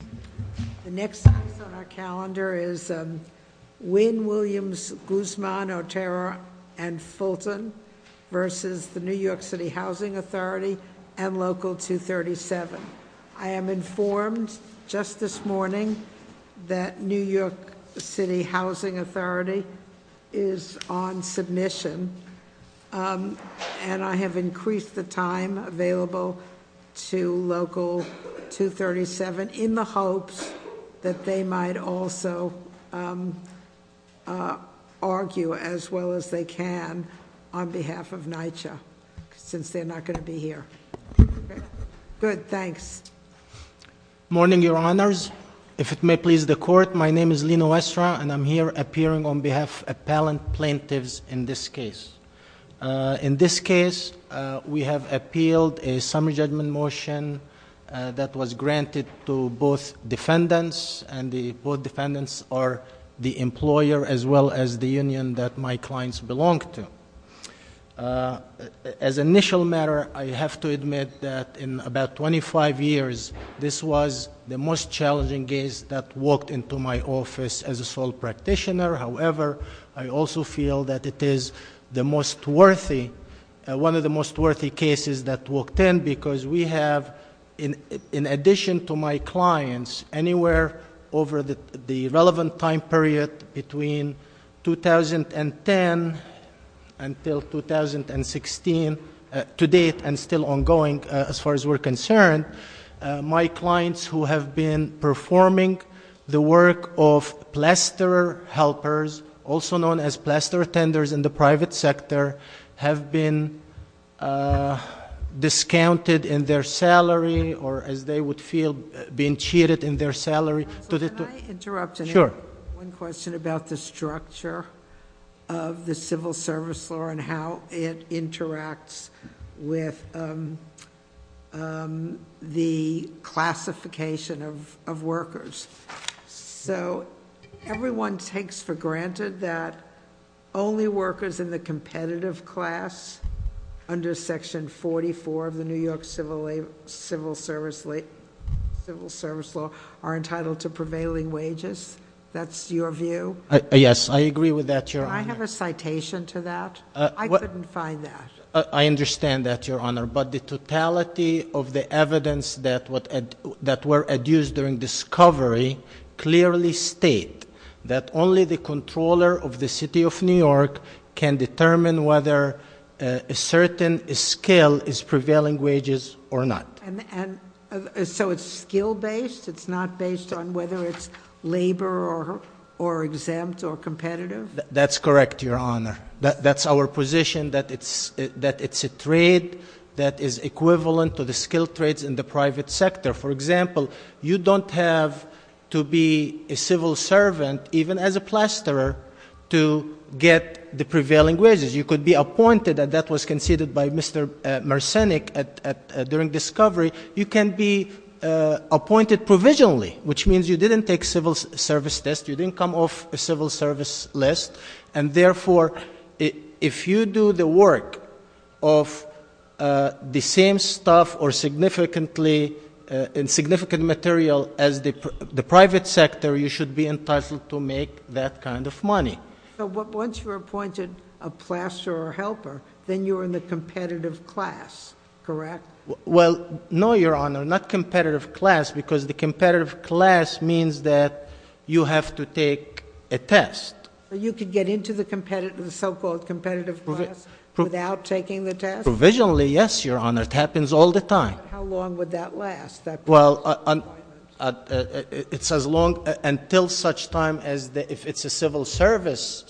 The next item on our calendar is Wynn, Williams, Guzman, Otero, and Fulton versus the New York City Housing Authority and Local 237. I am informed just this morning that New York City Housing Authority is on submission and I have increased the time available to Local 237 in the hopes that they might also argue as well as they can on behalf of NYCHA, since they're not going to be here. Good, thanks. Morning Your Honors. If it may please the Court, my name is Lino Estra and I'm here appearing on behalf of appellant plaintiffs in this case. In this case, we have appealed a summary judgment motion that was granted to both defendants. And both defendants are the employer as well as the union that my clients belong to. As initial matter, I have to admit that in about 25 years, this was the most challenging case that walked into my office as a sole practitioner. However, I also feel that it is the most worthy, one of the most worthy cases that walked in because we have, in addition to my clients, anywhere over the relevant time period between 2010 until 2016, to date and still ongoing as far as we're concerned. My clients who have been performing the work of plasterer helpers, also known as plasterer tenders in the private sector, have been discounted in their salary, or as they would feel, been cheated in their salary. To the- Can I interrupt? Sure. One question about the structure of the civil service law and how it interacts with the classification of workers. So everyone takes for granted that only workers in the competitive class under section 44 of the New York civil service law are entitled to prevailing wages. That's your view? Yes, I agree with that, Your Honor. Can I have a citation to that? I couldn't find that. I understand that, Your Honor. But the totality of the evidence that were adduced during discovery clearly state that only the controller of the city of New York can determine whether a certain skill is prevailing wages or not. And so it's skill based? It's not based on whether it's labor or exempt or competitive? That's correct, Your Honor. That's our position, that it's a trade that is equivalent to the skill trades in the private sector. For example, you don't have to be a civil servant, even as a plasterer, to get the prevailing wages. You could be appointed, and that was conceded by Mr. Mersennick during discovery. You can be appointed provisionally, which means you didn't take civil service test. You didn't come off a civil service list. And therefore, if you do the work of the same stuff or significant material as the private sector, you should be entitled to make that kind of money. But once you're appointed a plasterer or helper, then you're in the competitive class, correct? Well, no, Your Honor, not competitive class, because the competitive class means that you have to take a test. You could get into the so-called competitive class without taking the test? Provisionally, yes, Your Honor, it happens all the time. How long would that last? Well, it's as long until such time as if it's a civil service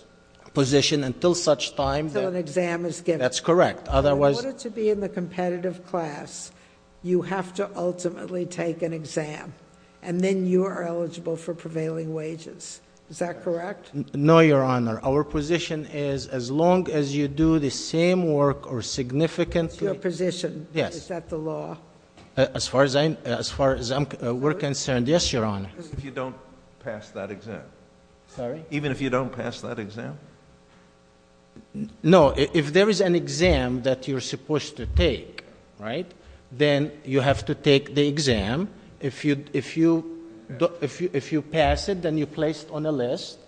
position, until such time- Until an exam is given. That's correct. In order to be in the competitive class, you have to ultimately take an exam. And then you are eligible for prevailing wages. Is that correct? No, Your Honor. Our position is as long as you do the same work or significant- It's your position. Yes. Is that the law? As far as I'm concerned, yes, Your Honor. If you don't pass that exam. Sorry? Even if you don't pass that exam? No, if there is an exam that you're supposed to take, right? Then you have to take the exam. If you pass it, then you're placed on a list.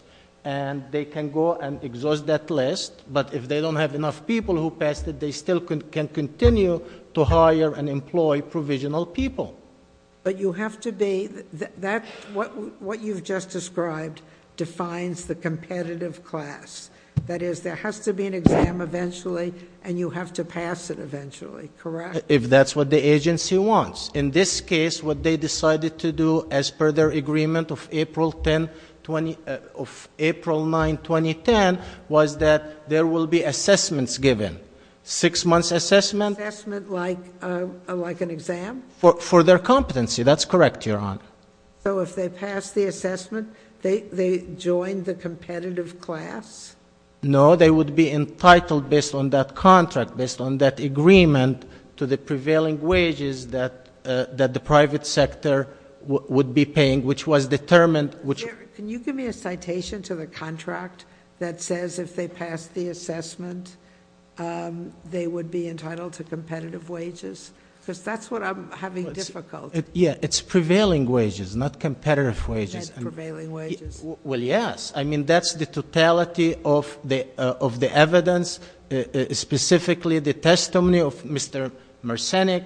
And they can go and exhaust that list. But if they don't have enough people who passed it, they still can continue to hire and employ provisional people. But you have to be, what you've just described defines the competitive class. That is, there has to be an exam eventually, and you have to pass it eventually, correct? If that's what the agency wants. In this case, what they decided to do as per their agreement of April 9, 2010, was that there will be assessments given. Six months assessment. Assessment like an exam? For their competency, that's correct, Your Honor. So if they pass the assessment, they join the competitive class? No, they would be entitled based on that contract, based on that agreement to the prevailing wages that the private sector would be paying, which was determined, which- Can you give me a citation to the contract that says if they pass the assessment, they would be entitled to competitive wages? because that's what I'm having difficulty. Yeah, it's prevailing wages, not competitive wages. Prevailing wages. Well, yes. I mean, that's the totality of the evidence. Specifically, the testimony of Mr. Mercenic,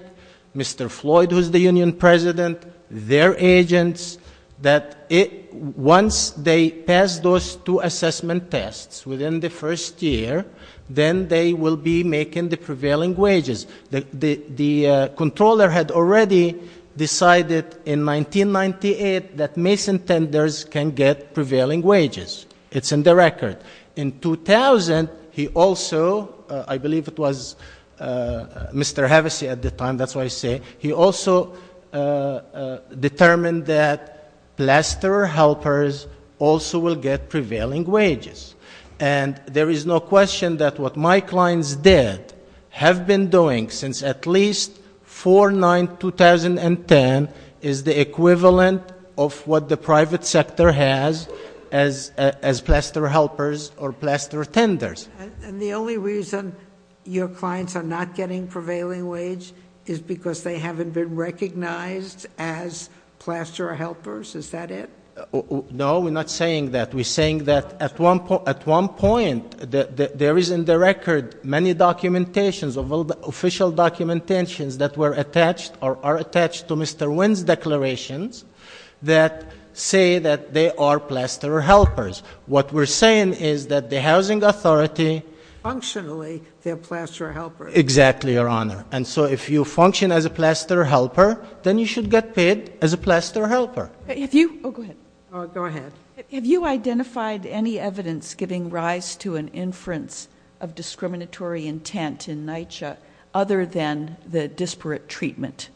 Mr. Floyd, who's the union president, their agents. That once they pass those two assessment tests within the first year, then they will be making the prevailing wages. The controller had already decided in 1998 that Mason Tenders can get prevailing wages. It's in the record. In 2000, he also, I believe it was Mr. Hevesi at the time, that's what I say, he also determined that plasterer helpers also will get prevailing wages. And there is no question that what my clients did, have been doing since at least 4-9-2010, is the equivalent of what the private sector has as plasterer helpers or plasterer tenders. And the only reason your clients are not getting prevailing wage is because they haven't been recognized as plasterer helpers, is that it? No, we're not saying that. We're saying that at one point, there is in the record many documentations, official documentations that were attached or are attached to Mr. Wynn's declarations that say that they are plasterer helpers. What we're saying is that the housing authority- Functionally, they're plasterer helpers. Exactly, Your Honor. And so if you function as a plasterer helper, then you should get paid as a plasterer helper. If you- Oh, go ahead. Go ahead. Have you identified any evidence giving rise to an inference of discriminatory intent in NYCHA, other than the disparate treatment?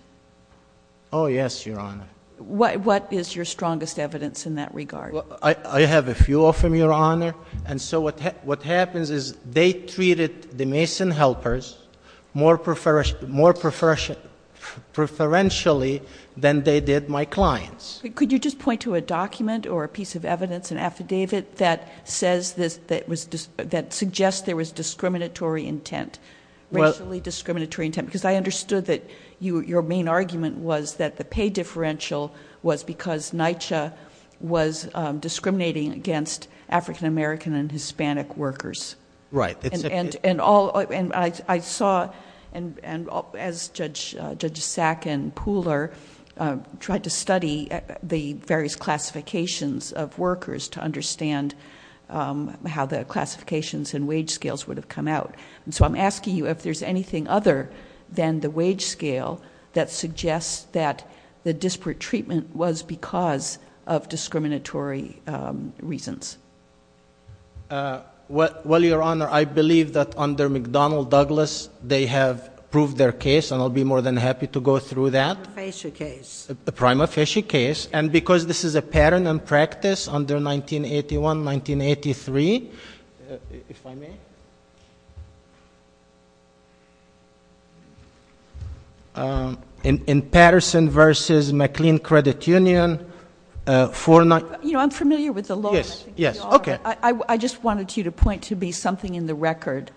Oh, yes, Your Honor. What is your strongest evidence in that regard? I have a few of them, Your Honor. And so what happens is they treated the mason helpers more preferentially than they did my clients. Could you just point to a document or a piece of evidence, an affidavit that suggests there was discriminatory intent, racially discriminatory intent, because I understood that your main argument was that the pay differential was because NYCHA was discriminating against African American and Hispanic workers. Right. And I saw, as Judge Sack and the various classifications of workers to understand how the classifications and wage scales would have come out. And so I'm asking you if there's anything other than the wage scale that suggests that the disparate treatment was because of discriminatory reasons. Well, Your Honor, I believe that under McDonnell Douglas, they have proved their case, and I'll be more than happy to go through that. Prima facie case. Prima facie case. And because this is a pattern and practice under 1981, 1983, if I may. In Patterson versus McLean Credit Union, for not- You know, I'm familiar with the law. Yes, yes, okay. I just wanted you to point to be something in the record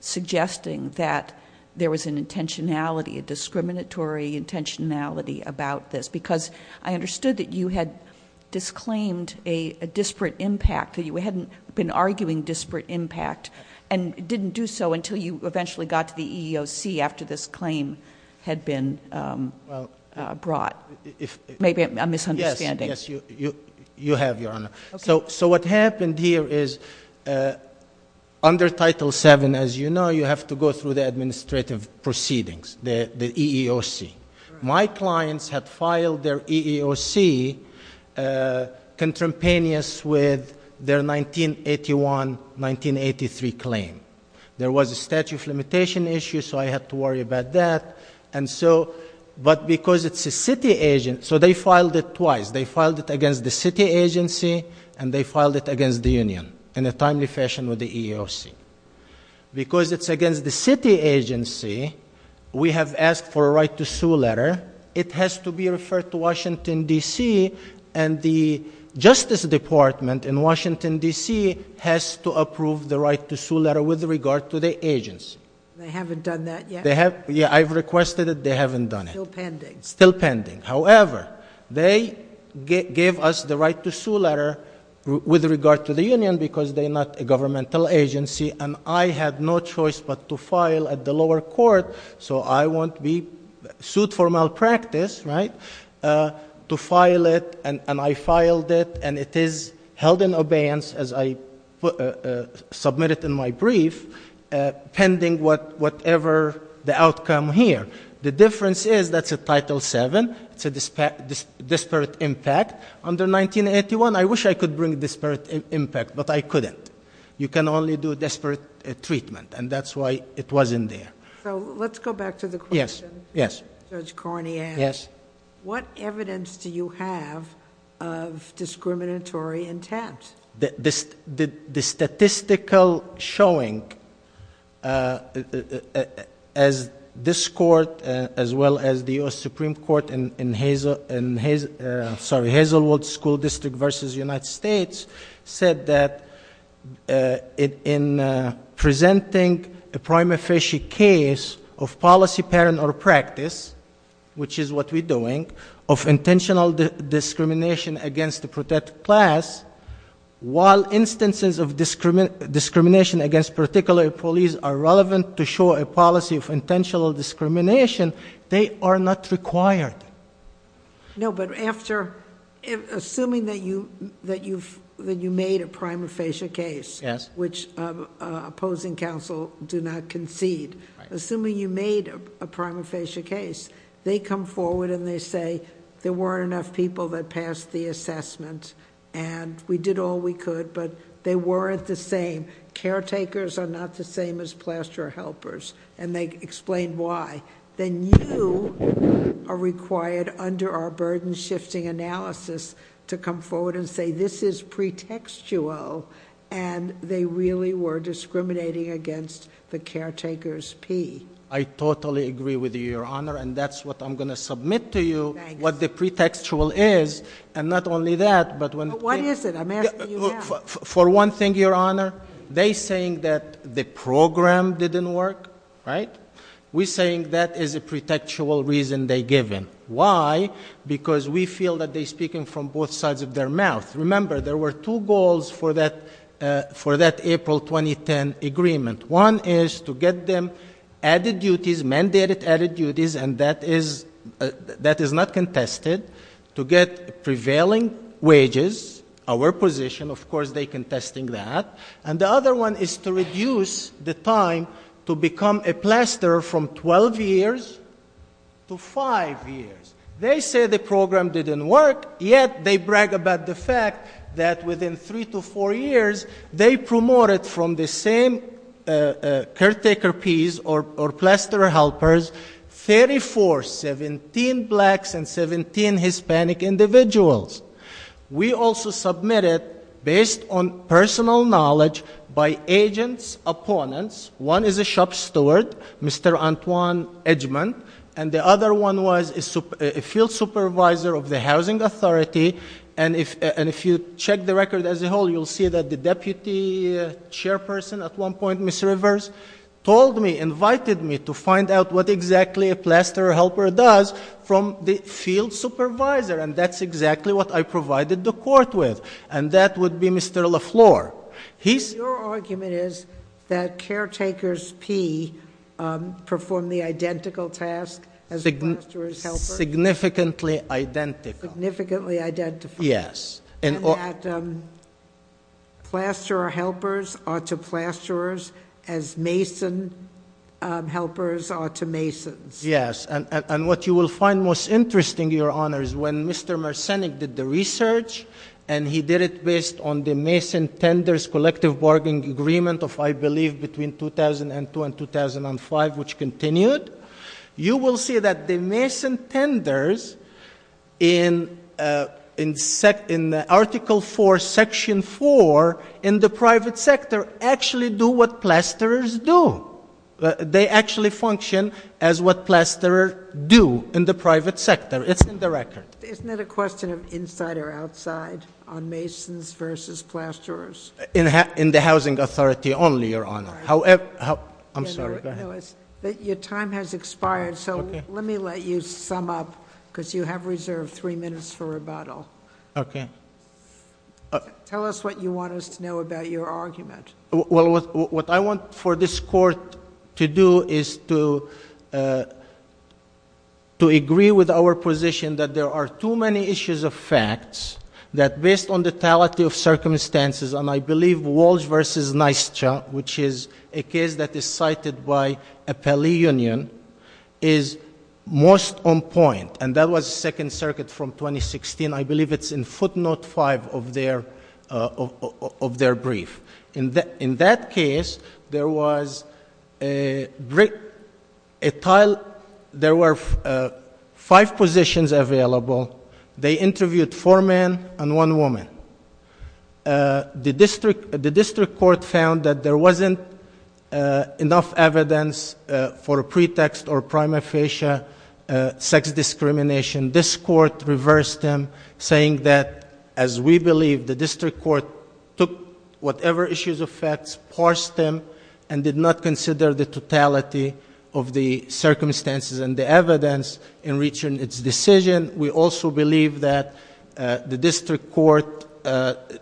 suggesting that there was an intentionality, a discriminatory intentionality about this, because I understood that you had disclaimed a disparate impact. That you hadn't been arguing disparate impact and didn't do so until you eventually got to the EEOC after this claim had been brought. Maybe a misunderstanding. Yes, yes, you have, Your Honor. So what happened here is under Title VII, as you know, you have to go through the administrative proceedings, the EEOC. My clients have filed their EEOC contemporaneous with their 1981, 1983 claim. There was a statute of limitation issue, so I had to worry about that. And so, but because it's a city agent, so they filed it twice. They filed it against the city agency, and they filed it against the union in a timely fashion with the EEOC. Because it's against the city agency, we have asked for a right to sue letter. It has to be referred to Washington D.C., and the Justice Department in Washington D.C. has to approve the right to sue letter with regard to the agents. They haven't done that yet? They have, yeah, I've requested it, they haven't done it. Still pending. Still pending. However, they gave us the right to sue letter with regard to the union, because they're not a governmental agency, and I had no choice but to file at the lower court, so I won't be sued for malpractice, right, to file it, and I filed it. And it is held in abeyance, as I submitted in my brief, pending whatever the outcome here. The difference is, that's a Title VII, it's a disparate impact. Under 1981, I wish I could bring disparate impact, but I couldn't. You can only do disparate treatment, and that's why it wasn't there. So, let's go back to the question. Yes, yes. Judge Carney asked. Yes. What evidence do you have of discriminatory intent? The statistical showing, as this court, as well as the US Supreme Court in Hazelwood School District versus United States, said that in presenting a prima facie case of policy, parent, or practice, which is what we're doing, of intentional discrimination against the protected class. While instances of discrimination against particular police are relevant to show a policy of intentional discrimination, they are not required. No, but after, assuming that you made a prima facie case. Yes. Which opposing counsel do not concede. Assuming you made a prima facie case, they come forward and they say, there weren't enough people that passed the assessment, and we did all we could. But they weren't the same. Caretakers are not the same as plaster helpers, and they explain why. Then you are required under our burden shifting analysis to come forward and say this is pretextual, and they really were discriminating against the caretaker's P. I totally agree with you, your honor, and that's what I'm going to submit to you, what the pretextual is. And not only that, but when- What is it? I'm asking you now. For one thing, your honor, they saying that the program didn't work, right? We saying that is a pretextual reason they given. Why? Because we feel that they speaking from both sides of their mouth. Remember, there were two goals for that April 2010 agreement. One is to get them added duties, mandated added duties, and that is not contested, to get prevailing wages, our position, of course, they contesting that, and the other one is to reduce the time to become a plasterer from 12 years to five years. They say the program didn't work, yet they brag about the fact that within three to four years, they promoted from the same caretaker piece or plasterer helpers, 34, 17 blacks and 17 Hispanic individuals. We also submitted, based on personal knowledge by agents, opponents. One is a shop steward, Mr. Antoine Edgeman, and the other one was a field supervisor of the housing authority. And if you check the record as a whole, you'll see that the deputy chairperson at one point, Miss Rivers, told me, invited me to find out what exactly a plasterer helper does from the field supervisor, and that's exactly what I provided the court with, and that would be Mr. LaFleur. He's- Your argument is that caretakers P perform the identical task as a plasterer's helper? Significantly identical. Significantly identical. Yes. And that plasterer helpers are to plasterers as mason helpers are to masons. Yes, and what you will find most interesting, your honor, is when Mr. Mersennick did the research, and he did it based on the Mason Tenders Collective Bargaining Agreement of, I believe, between 2002 and 2005, which continued. You will see that the Mason Tenders in Article 4, Section 4, in the private sector, actually do what plasterers do. They actually function as what plasterers do in the private sector. It's in the record. Isn't it a question of inside or outside on masons versus plasterers? In the housing authority only, your honor. However, I'm sorry, go ahead. Your time has expired, so let me let you sum up, because you have reserved three minutes for rebuttal. Okay. Tell us what you want us to know about your argument. Well, what I want for this court to do is to agree with our position that there are too many issues of facts, that based on the tality of circumstances, and I believe Walsh versus Nystra, which is a case that is cited by Appellee Union, is most on point. And that was Second Circuit from 2016, I believe it's in footnote five of their brief. In that case, there was a tile, there were five positions available, they interviewed four men and one woman. The district court found that there wasn't enough evidence for a pretext or prima facie sex discrimination. This court reversed them, saying that, as we believe, the district court took whatever issues of facts, parsed them, and did not consider the totality of the circumstances and the evidence in reaching its decision. We also believe that the district court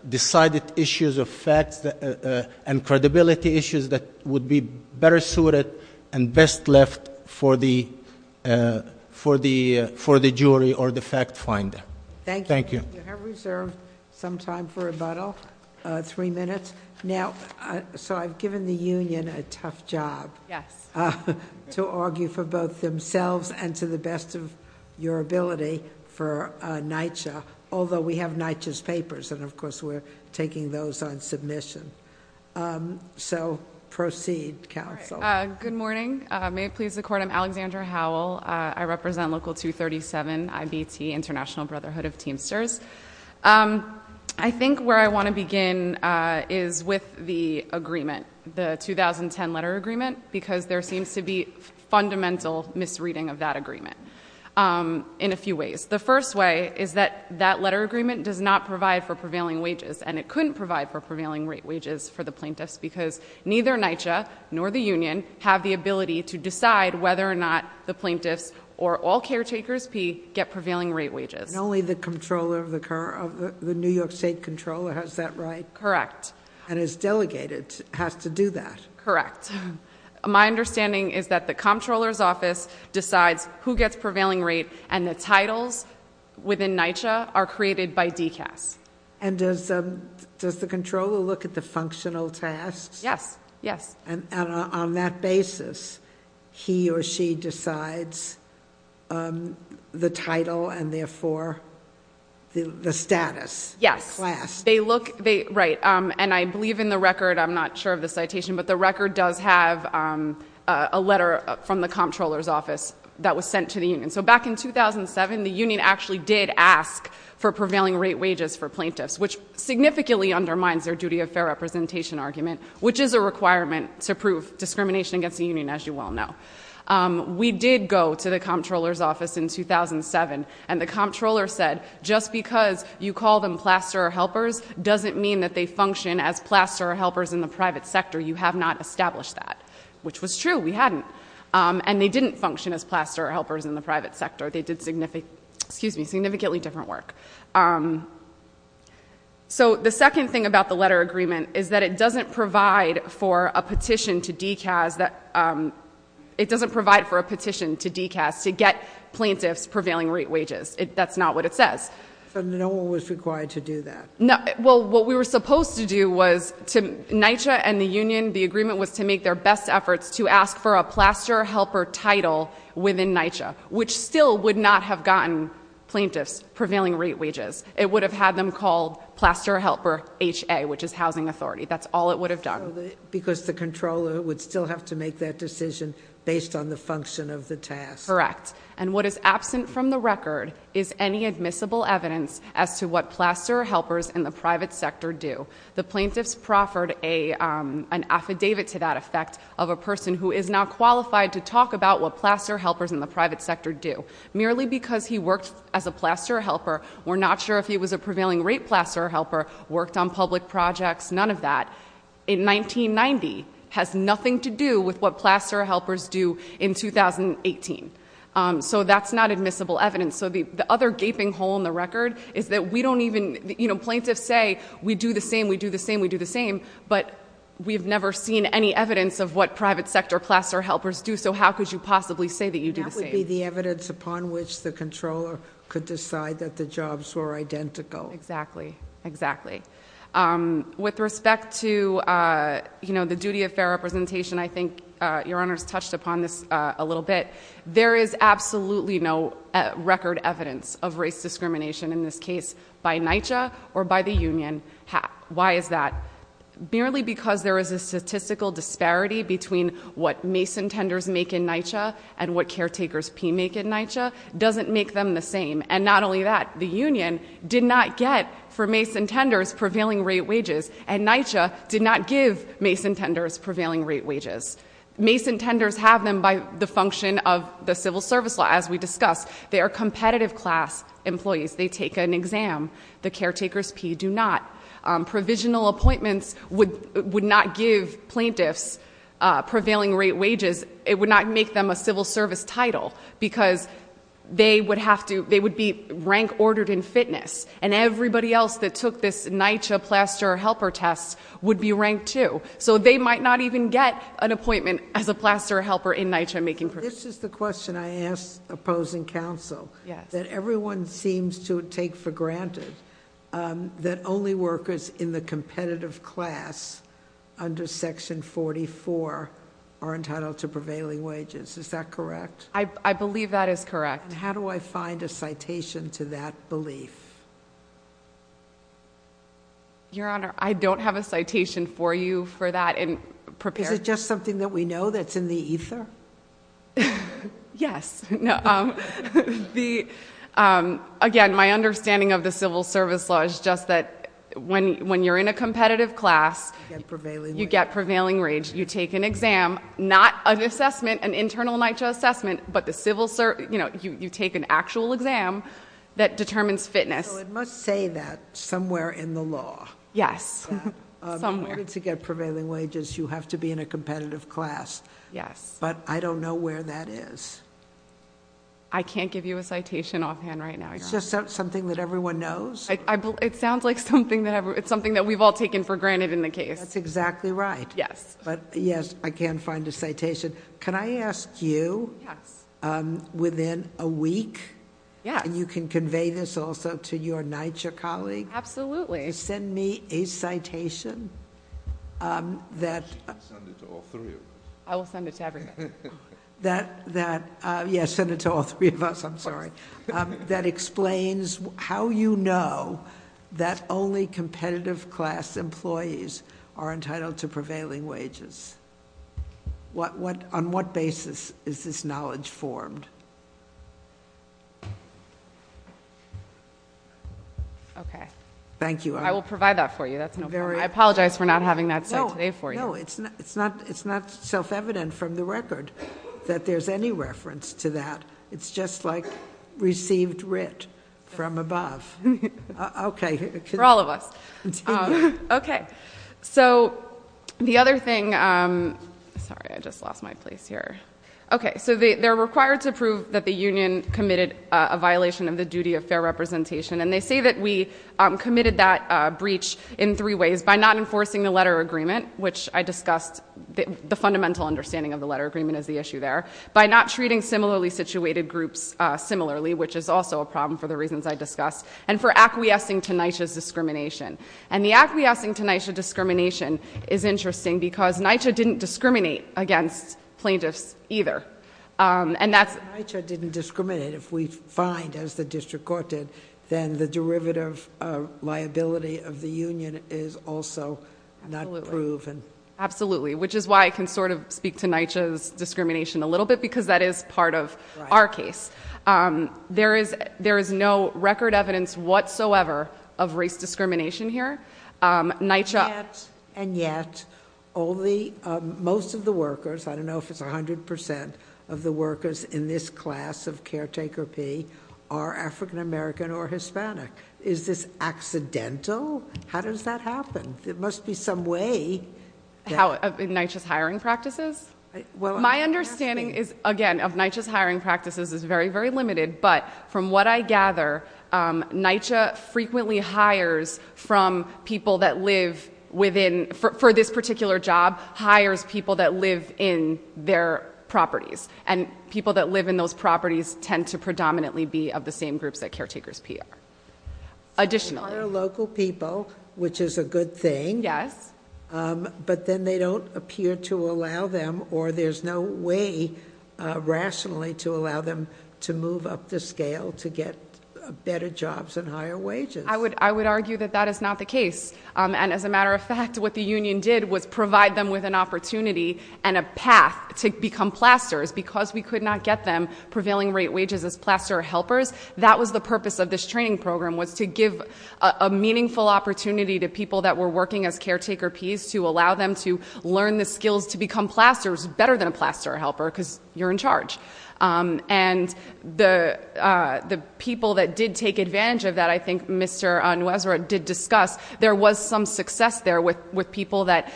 decided issues of facts and credibility issues that would be better suited and best left for the jury or the fact finder. Thank you. Thank you. You have reserved some time for rebuttal, three minutes. Now, so I've given the union a tough job. Yes. To argue for both themselves and to the best of your ability for NYCHA. Although we have NYCHA's papers, and of course we're taking those on submission. So proceed, counsel. Good morning. May it please the court, I'm Alexandra Howell. I represent Local 237, IBT, International Brotherhood of Teamsters. I think where I want to begin is with the agreement, the 2010 letter agreement, because there seems to be fundamental misreading of that agreement in a few ways. The first way is that that letter agreement does not provide for prevailing wages, and it couldn't provide for prevailing rate wages for the plaintiffs because neither NYCHA nor the union have the ability to decide whether or not the plaintiffs or all caretakers get prevailing rate wages. Only the New York State Comptroller has that right? Correct. And his delegate has to do that. My understanding is that the Comptroller's office decides who gets prevailing rate and the titles within NYCHA are created by DCAS. And does the Comptroller look at the functional tasks? Yes, yes. And on that basis, he or she decides the title and therefore the status. Yes. Class. Right, and I believe in the record, I'm not sure of the citation, but the record does have a letter from the Comptroller's office that was sent to the union. So back in 2007, the union actually did ask for prevailing rate wages for plaintiffs, which significantly undermines their duty of fair representation argument, which is a requirement to prove discrimination against the union, as you well know. We did go to the Comptroller's office in 2007, and the Comptroller said, just because you call them plasterer helpers doesn't mean that they function as plasterer helpers in the private sector. You have not established that, which was true, we hadn't. And they didn't function as plasterer helpers in the private sector. They did significantly different work. So the second thing about the letter agreement is that it doesn't provide for a petition to DCAS to get plaintiffs prevailing rate wages. That's not what it says. So no one was required to do that? Well, what we were supposed to do was, to NYCHA and the union, the agreement was to make their best efforts to ask for It would have had them called plasterer helper HA, which is housing authority. That's all it would have done. Because the Comptroller would still have to make that decision based on the function of the task. Correct. And what is absent from the record is any admissible evidence as to what plasterer helpers in the private sector do. The plaintiffs proffered an affidavit to that effect of a person who is not qualified to talk about what plasterer helpers in the private sector do. Merely because he worked as a plasterer helper, we're not sure if he was a prevailing rate plasterer helper, worked on public projects, none of that. In 1990, has nothing to do with what plasterer helpers do in 2018. So that's not admissible evidence. So the other gaping hole in the record is that we don't even, plaintiffs say, we do the same, we do the same, we do the same. But we've never seen any evidence of what private sector plasterer helpers do, so how could you possibly say that you do the same? Maybe the evidence upon which the Comptroller could decide that the jobs were identical. Exactly, exactly. With respect to the duty of fair representation, I think your honors touched upon this a little bit. There is absolutely no record evidence of race discrimination in this case by NYCHA or by the union. Why is that? Merely because there is a statistical disparity between what Mason tenders make in NYCHA and what caretakers P make in NYCHA doesn't make them the same. And not only that, the union did not get for Mason tenders prevailing rate wages and NYCHA did not give Mason tenders prevailing rate wages. Mason tenders have them by the function of the civil service law as we discussed. They are competitive class employees. They take an exam. The caretakers P do not. Provisional appointments would not give plaintiffs prevailing rate wages. It would not make them a civil service title because they would be rank ordered in fitness. And everybody else that took this NYCHA plasterer helper test would be ranked too. So they might not even get an appointment as a plasterer helper in NYCHA making. This is the question I asked opposing counsel that everyone seems to take for granted that only workers in the competitive class under section 44 are entitled to prevailing wages. Is that correct? I believe that is correct. How do I find a citation to that belief? Your honor, I don't have a citation for you for that. Is it just something that we know that's in the ether? Yes. Again, my understanding of the civil service law is just that when you're in a competitive class. You get prevailing wage. You get prevailing wage. You take an exam, not an assessment, an internal NYCHA assessment, but you take an actual exam that determines fitness. So it must say that somewhere in the law. Yes, somewhere. If you wanted to get prevailing wages, you have to be in a competitive class. Yes. But I don't know where that is. I can't give you a citation offhand right now. It's just something that everyone knows? It sounds like something that we've all taken for granted in the case. That's exactly right. Yes. But yes, I can't find a citation. Can I ask you, within a week, and you can convey this also to your NYCHA colleague. Absolutely. Send me a citation that- You can send it to all three of us. I will send it to everybody. That, yes, send it to all three of us, I'm sorry. That explains how you know that only competitive class employees are entitled to prevailing wages. On what basis is this knowledge formed? Okay. Thank you. I will provide that for you. That's no problem. I apologize for not having that cited today for you. No, it's not self-evident from the record that there's any reference to that. It's just like received writ from above. Okay. For all of us. Okay. So the other thing, sorry, I just lost my place here. Okay, so they're required to prove that the union committed a violation of the duty of fair representation. And they say that we committed that breach in three ways. By not enforcing the letter agreement, which I discussed, the fundamental understanding of the letter agreement is the issue there. By not treating similarly situated groups similarly, which is also a problem for the reasons I discussed. And for acquiescing to NYCHA's discrimination. And the acquiescing to NYCHA discrimination is interesting because NYCHA didn't discriminate against plaintiffs either. And that's- NYCHA didn't discriminate. If we find, as the district court did, then the derivative of liability of the union is also not proven. Absolutely, which is why I can sort of speak to NYCHA's discrimination a little bit, because that is part of our case. There is no record evidence whatsoever of race discrimination here. NYCHA- Of the workers in this class of caretaker P, are African American or Hispanic. Is this accidental? How does that happen? There must be some way. How, in NYCHA's hiring practices? My understanding is, again, of NYCHA's hiring practices is very, very limited. But from what I gather, NYCHA frequently hires from people that live within, for this particular job, hires people that live in their properties. And people that live in those properties tend to predominantly be of the same groups that caretakers pay. Additionally- They hire local people, which is a good thing. Yes. But then they don't appear to allow them, or there's no way rationally to allow them to move up the scale to get better jobs and higher wages. I would argue that that is not the case. And as a matter of fact, what the union did was provide them with an opportunity and a path to become plasters, because we could not get them prevailing rate wages as plaster helpers. That was the purpose of this training program, was to give a meaningful opportunity to people that were working as caretaker P's, to allow them to learn the skills to become plasters better than a plaster helper, because you're in charge. And the people that did take advantage of that, I think Mr. Nuesra did discuss, there was some success there with people that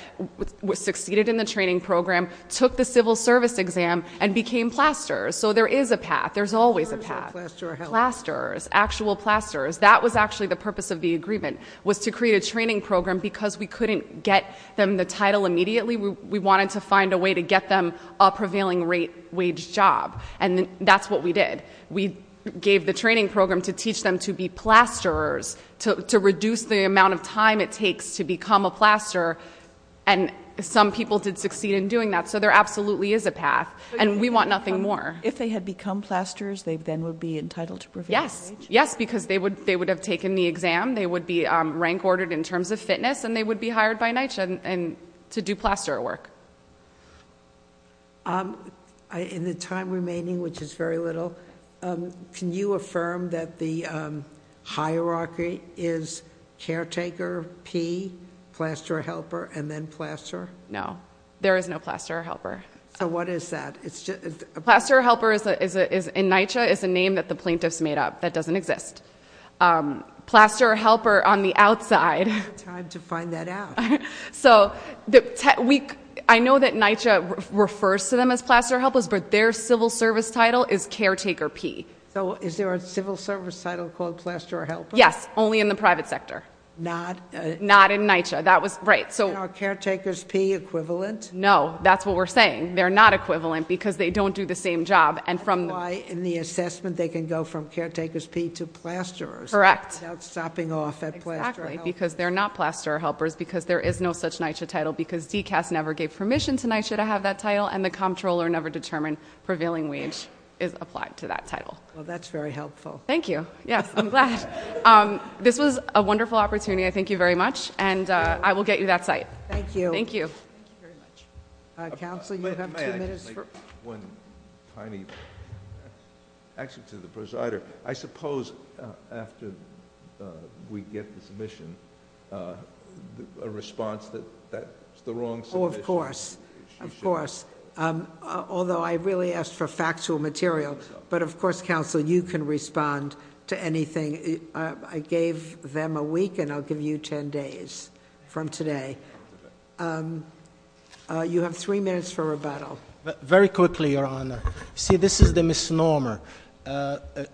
succeeded in the training program, took the civil service exam, and became plasters, so there is a path, there's always a path. Plasters, actual plasters, that was actually the purpose of the agreement, was to create a training program because we couldn't get them the title immediately. We wanted to find a way to get them a prevailing rate wage job, and that's what we did. We gave the training program to teach them to be plasterers, to reduce the amount of time it takes to become a plasterer, and some people did succeed in doing that. So there absolutely is a path, and we want nothing more. If they had become plasterers, they then would be entitled to prevailing wage? Yes, because they would have taken the exam, they would be rank ordered in terms of fitness, and they would be hired by NYCHA to do plasterer work. In the time remaining, which is very little, can you affirm that the hierarchy is caretaker P, plasterer helper, and then plasterer? No, there is no plasterer helper. So what is that? Plasterer helper, in NYCHA, is a name that the plaintiffs made up that doesn't exist. Plasterer helper on the outside. We don't have time to find that out. So I know that NYCHA refers to them as plasterer helpers, but their civil service title is caretaker P. So is there a civil service title called plasterer helper? Yes, only in the private sector. Not? Not in NYCHA. That was, right, so- Are caretakers P equivalent? No, that's what we're saying. They're not equivalent, because they don't do the same job, and from the- That's why, in the assessment, they can go from caretakers P to plasterers. Correct. Without stopping off at plasterer helpers. Because they're not plasterer helpers, because there is no such NYCHA title, because DCAS never gave permission to NYCHA to have that title, and the comptroller never determined prevailing wage is applied to that title. Well, that's very helpful. Thank you. Yes, I'm glad. This was a wonderful opportunity. I thank you very much, and I will get you that site. Thank you. Thank you. Thank you very much. Counsel, you have two minutes for- A response that that's the wrong solution. Of course, of course, although I really asked for factual material, but of course, counsel, you can respond to anything. I gave them a week, and I'll give you ten days from today. You have three minutes for rebuttal. Very quickly, Your Honor. See, this is the misnomer.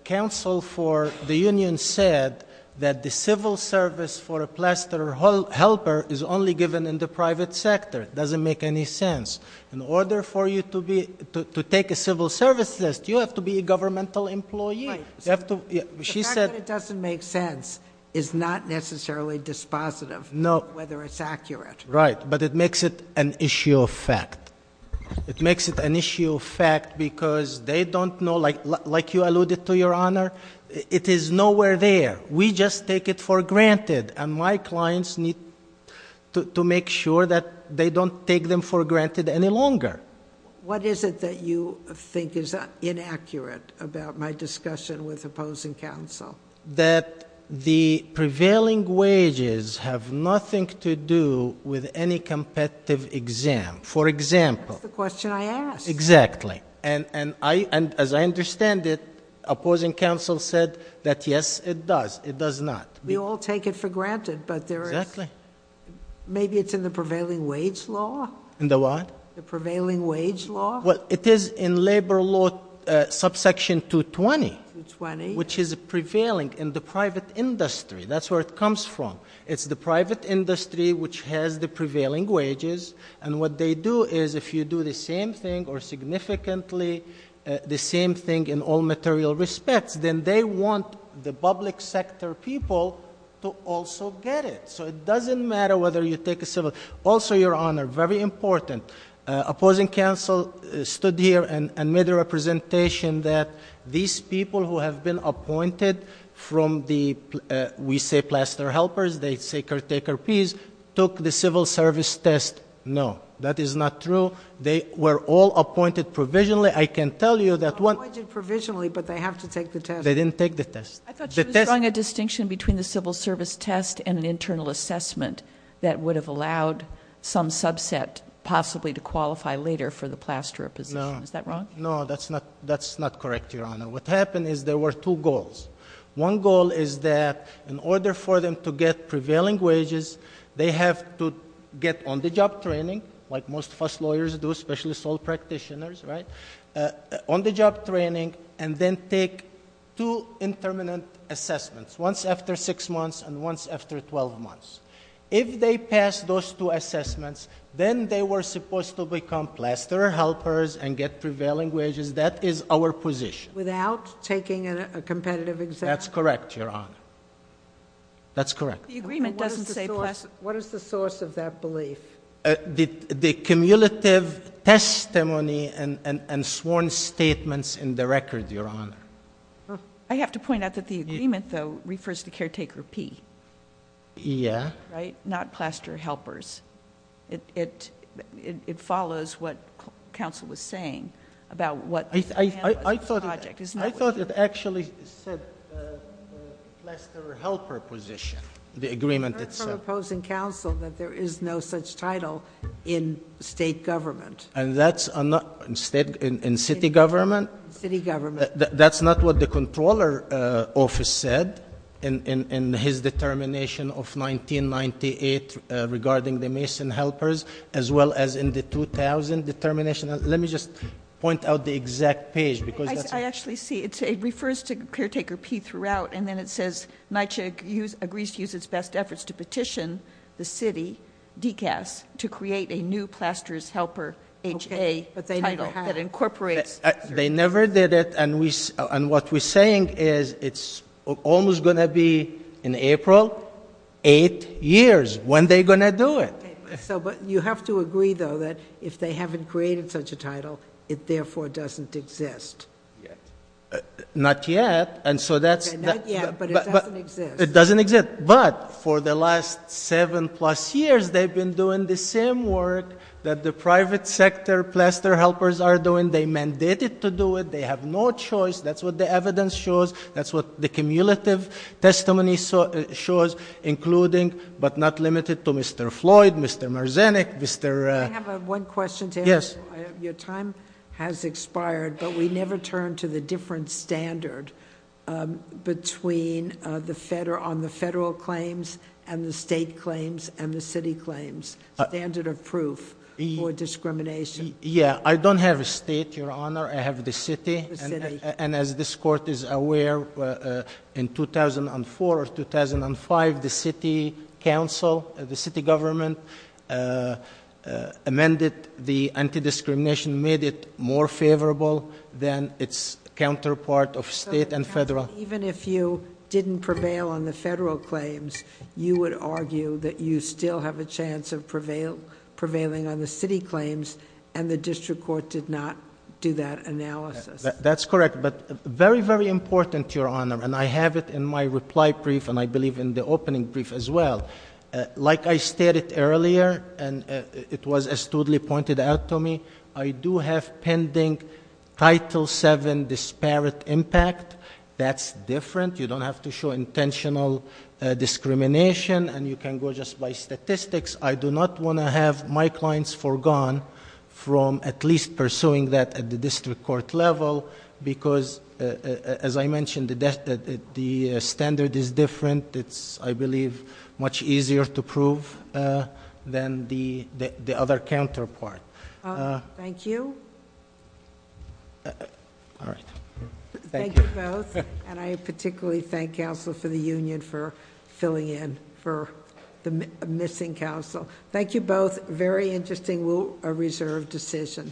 Counsel for the union said that the civil service for a plasterer helper is only given in the private sector. It doesn't make any sense. In order for you to take a civil service test, you have to be a governmental employee. You have to, she said- The fact that it doesn't make sense is not necessarily dispositive, whether it's accurate. Right, but it makes it an issue of fact. It makes it an issue of fact because they don't know, like you alluded to, Your Honor, it is nowhere there. We just take it for granted, and my clients need to make sure that they don't take them for granted any longer. What is it that you think is inaccurate about my discussion with opposing counsel? That the prevailing wages have nothing to do with any competitive exam. For example- That's the question I asked. Exactly. And as I understand it, opposing counsel said that yes, it does. It does not. We all take it for granted, but there is- Exactly. Maybe it's in the prevailing wage law? In the what? The prevailing wage law? Well, it is in labor law subsection 220, which is prevailing in the private industry. That's where it comes from. It's the private industry which has the prevailing wages, and what they do is, if you do the same thing or significantly the same thing in all material respects, then they want the public sector people to also get it. So it doesn't matter whether you take a civil. Also, Your Honor, very important, opposing counsel stood here and made a representation that these people who have been appointed from the, we say plaster helpers, they say caretaker piece, took the civil service test. No, that is not true. They were all appointed provisionally. I can tell you that one- Appointed provisionally, but they have to take the test. They didn't take the test. I thought she was drawing a distinction between the civil service test and an internal assessment that would have allowed some subset possibly to qualify later for the plasterer position. Is that wrong? No, that's not correct, Your Honor. What happened is there were two goals. One goal is that in order for them to get prevailing wages, they have to get on the job training, like most of us lawyers do, especially sole practitioners, right? On the job training, and then take two intermittent assessments, once after six months and once after 12 months. If they pass those two assessments, then they were supposed to become plasterer helpers and get prevailing wages. That is our position. Without taking a competitive exam? That's correct, Your Honor. That's correct. The agreement doesn't say plasterer. What is the source of that belief? The cumulative testimony and sworn statements in the record, Your Honor. I have to point out that the agreement, though, refers to caretaker P. Yeah. Not plasterer helpers. It follows what counsel was saying about what- I thought it actually said plasterer helper position, the agreement itself. I've heard from opposing counsel that there is no such title in state government. And that's not- in city government? City government. That's not what the comptroller office said in his determination of 1998 regarding the Mason helpers, as well as in the 2000 determination. Let me just point out the exact page because that's- I actually see it. It refers to caretaker P throughout. And then it says NYCHA agrees to use its best efforts to petition the city, DCAS, to create a new plasterer's helper HA title that incorporates- They never did it. And what we're saying is it's almost going to be, in April, eight years. When are they going to do it? So, but you have to agree, though, that if they haven't created such a title, it therefore doesn't exist. Not yet. And so that's- Not yet, but it doesn't exist. It doesn't exist. But for the last seven plus years, they've been doing the same work that the private sector plasterer helpers are doing. They mandated to do it. They have no choice. That's what the evidence shows. That's what the cumulative testimony shows, including, but not limited to, Mr. Floyd, Mr. Marzenik, Mr- I have one question to ask. Yes. Your time has expired, but we never turn to the different standard between on the federal claims and the state claims and the city claims. A standard of proof for discrimination. Yeah, I don't have a state, Your Honor. I have the city. The city. And as this court is aware, in 2004 or 2005, the city council, the city government amended the anti-discrimination, made it more favorable than its counterpart of state and federal. Even if you didn't prevail on the federal claims, you would argue that you still have a chance of prevailing on the city claims. And the district court did not do that analysis. That's correct, but very, very important, Your Honor, and I have it in my reply brief, and I believe in the opening brief as well. Like I stated earlier, and it was astutely pointed out to me, I do have pending Title VII disparate impact. That's different. You don't have to show intentional discrimination, and you can go just by statistics. I do not want to have my clients foregone from at least pursuing that at the district court level. Because, as I mentioned, the standard is different. It's, I believe, much easier to prove than the other counterpart. Thank you. All right. Thank you. Thank you both, and I particularly thank counsel for the union for filling in for the missing counsel. Thank you both, very interesting rule of reserve decision.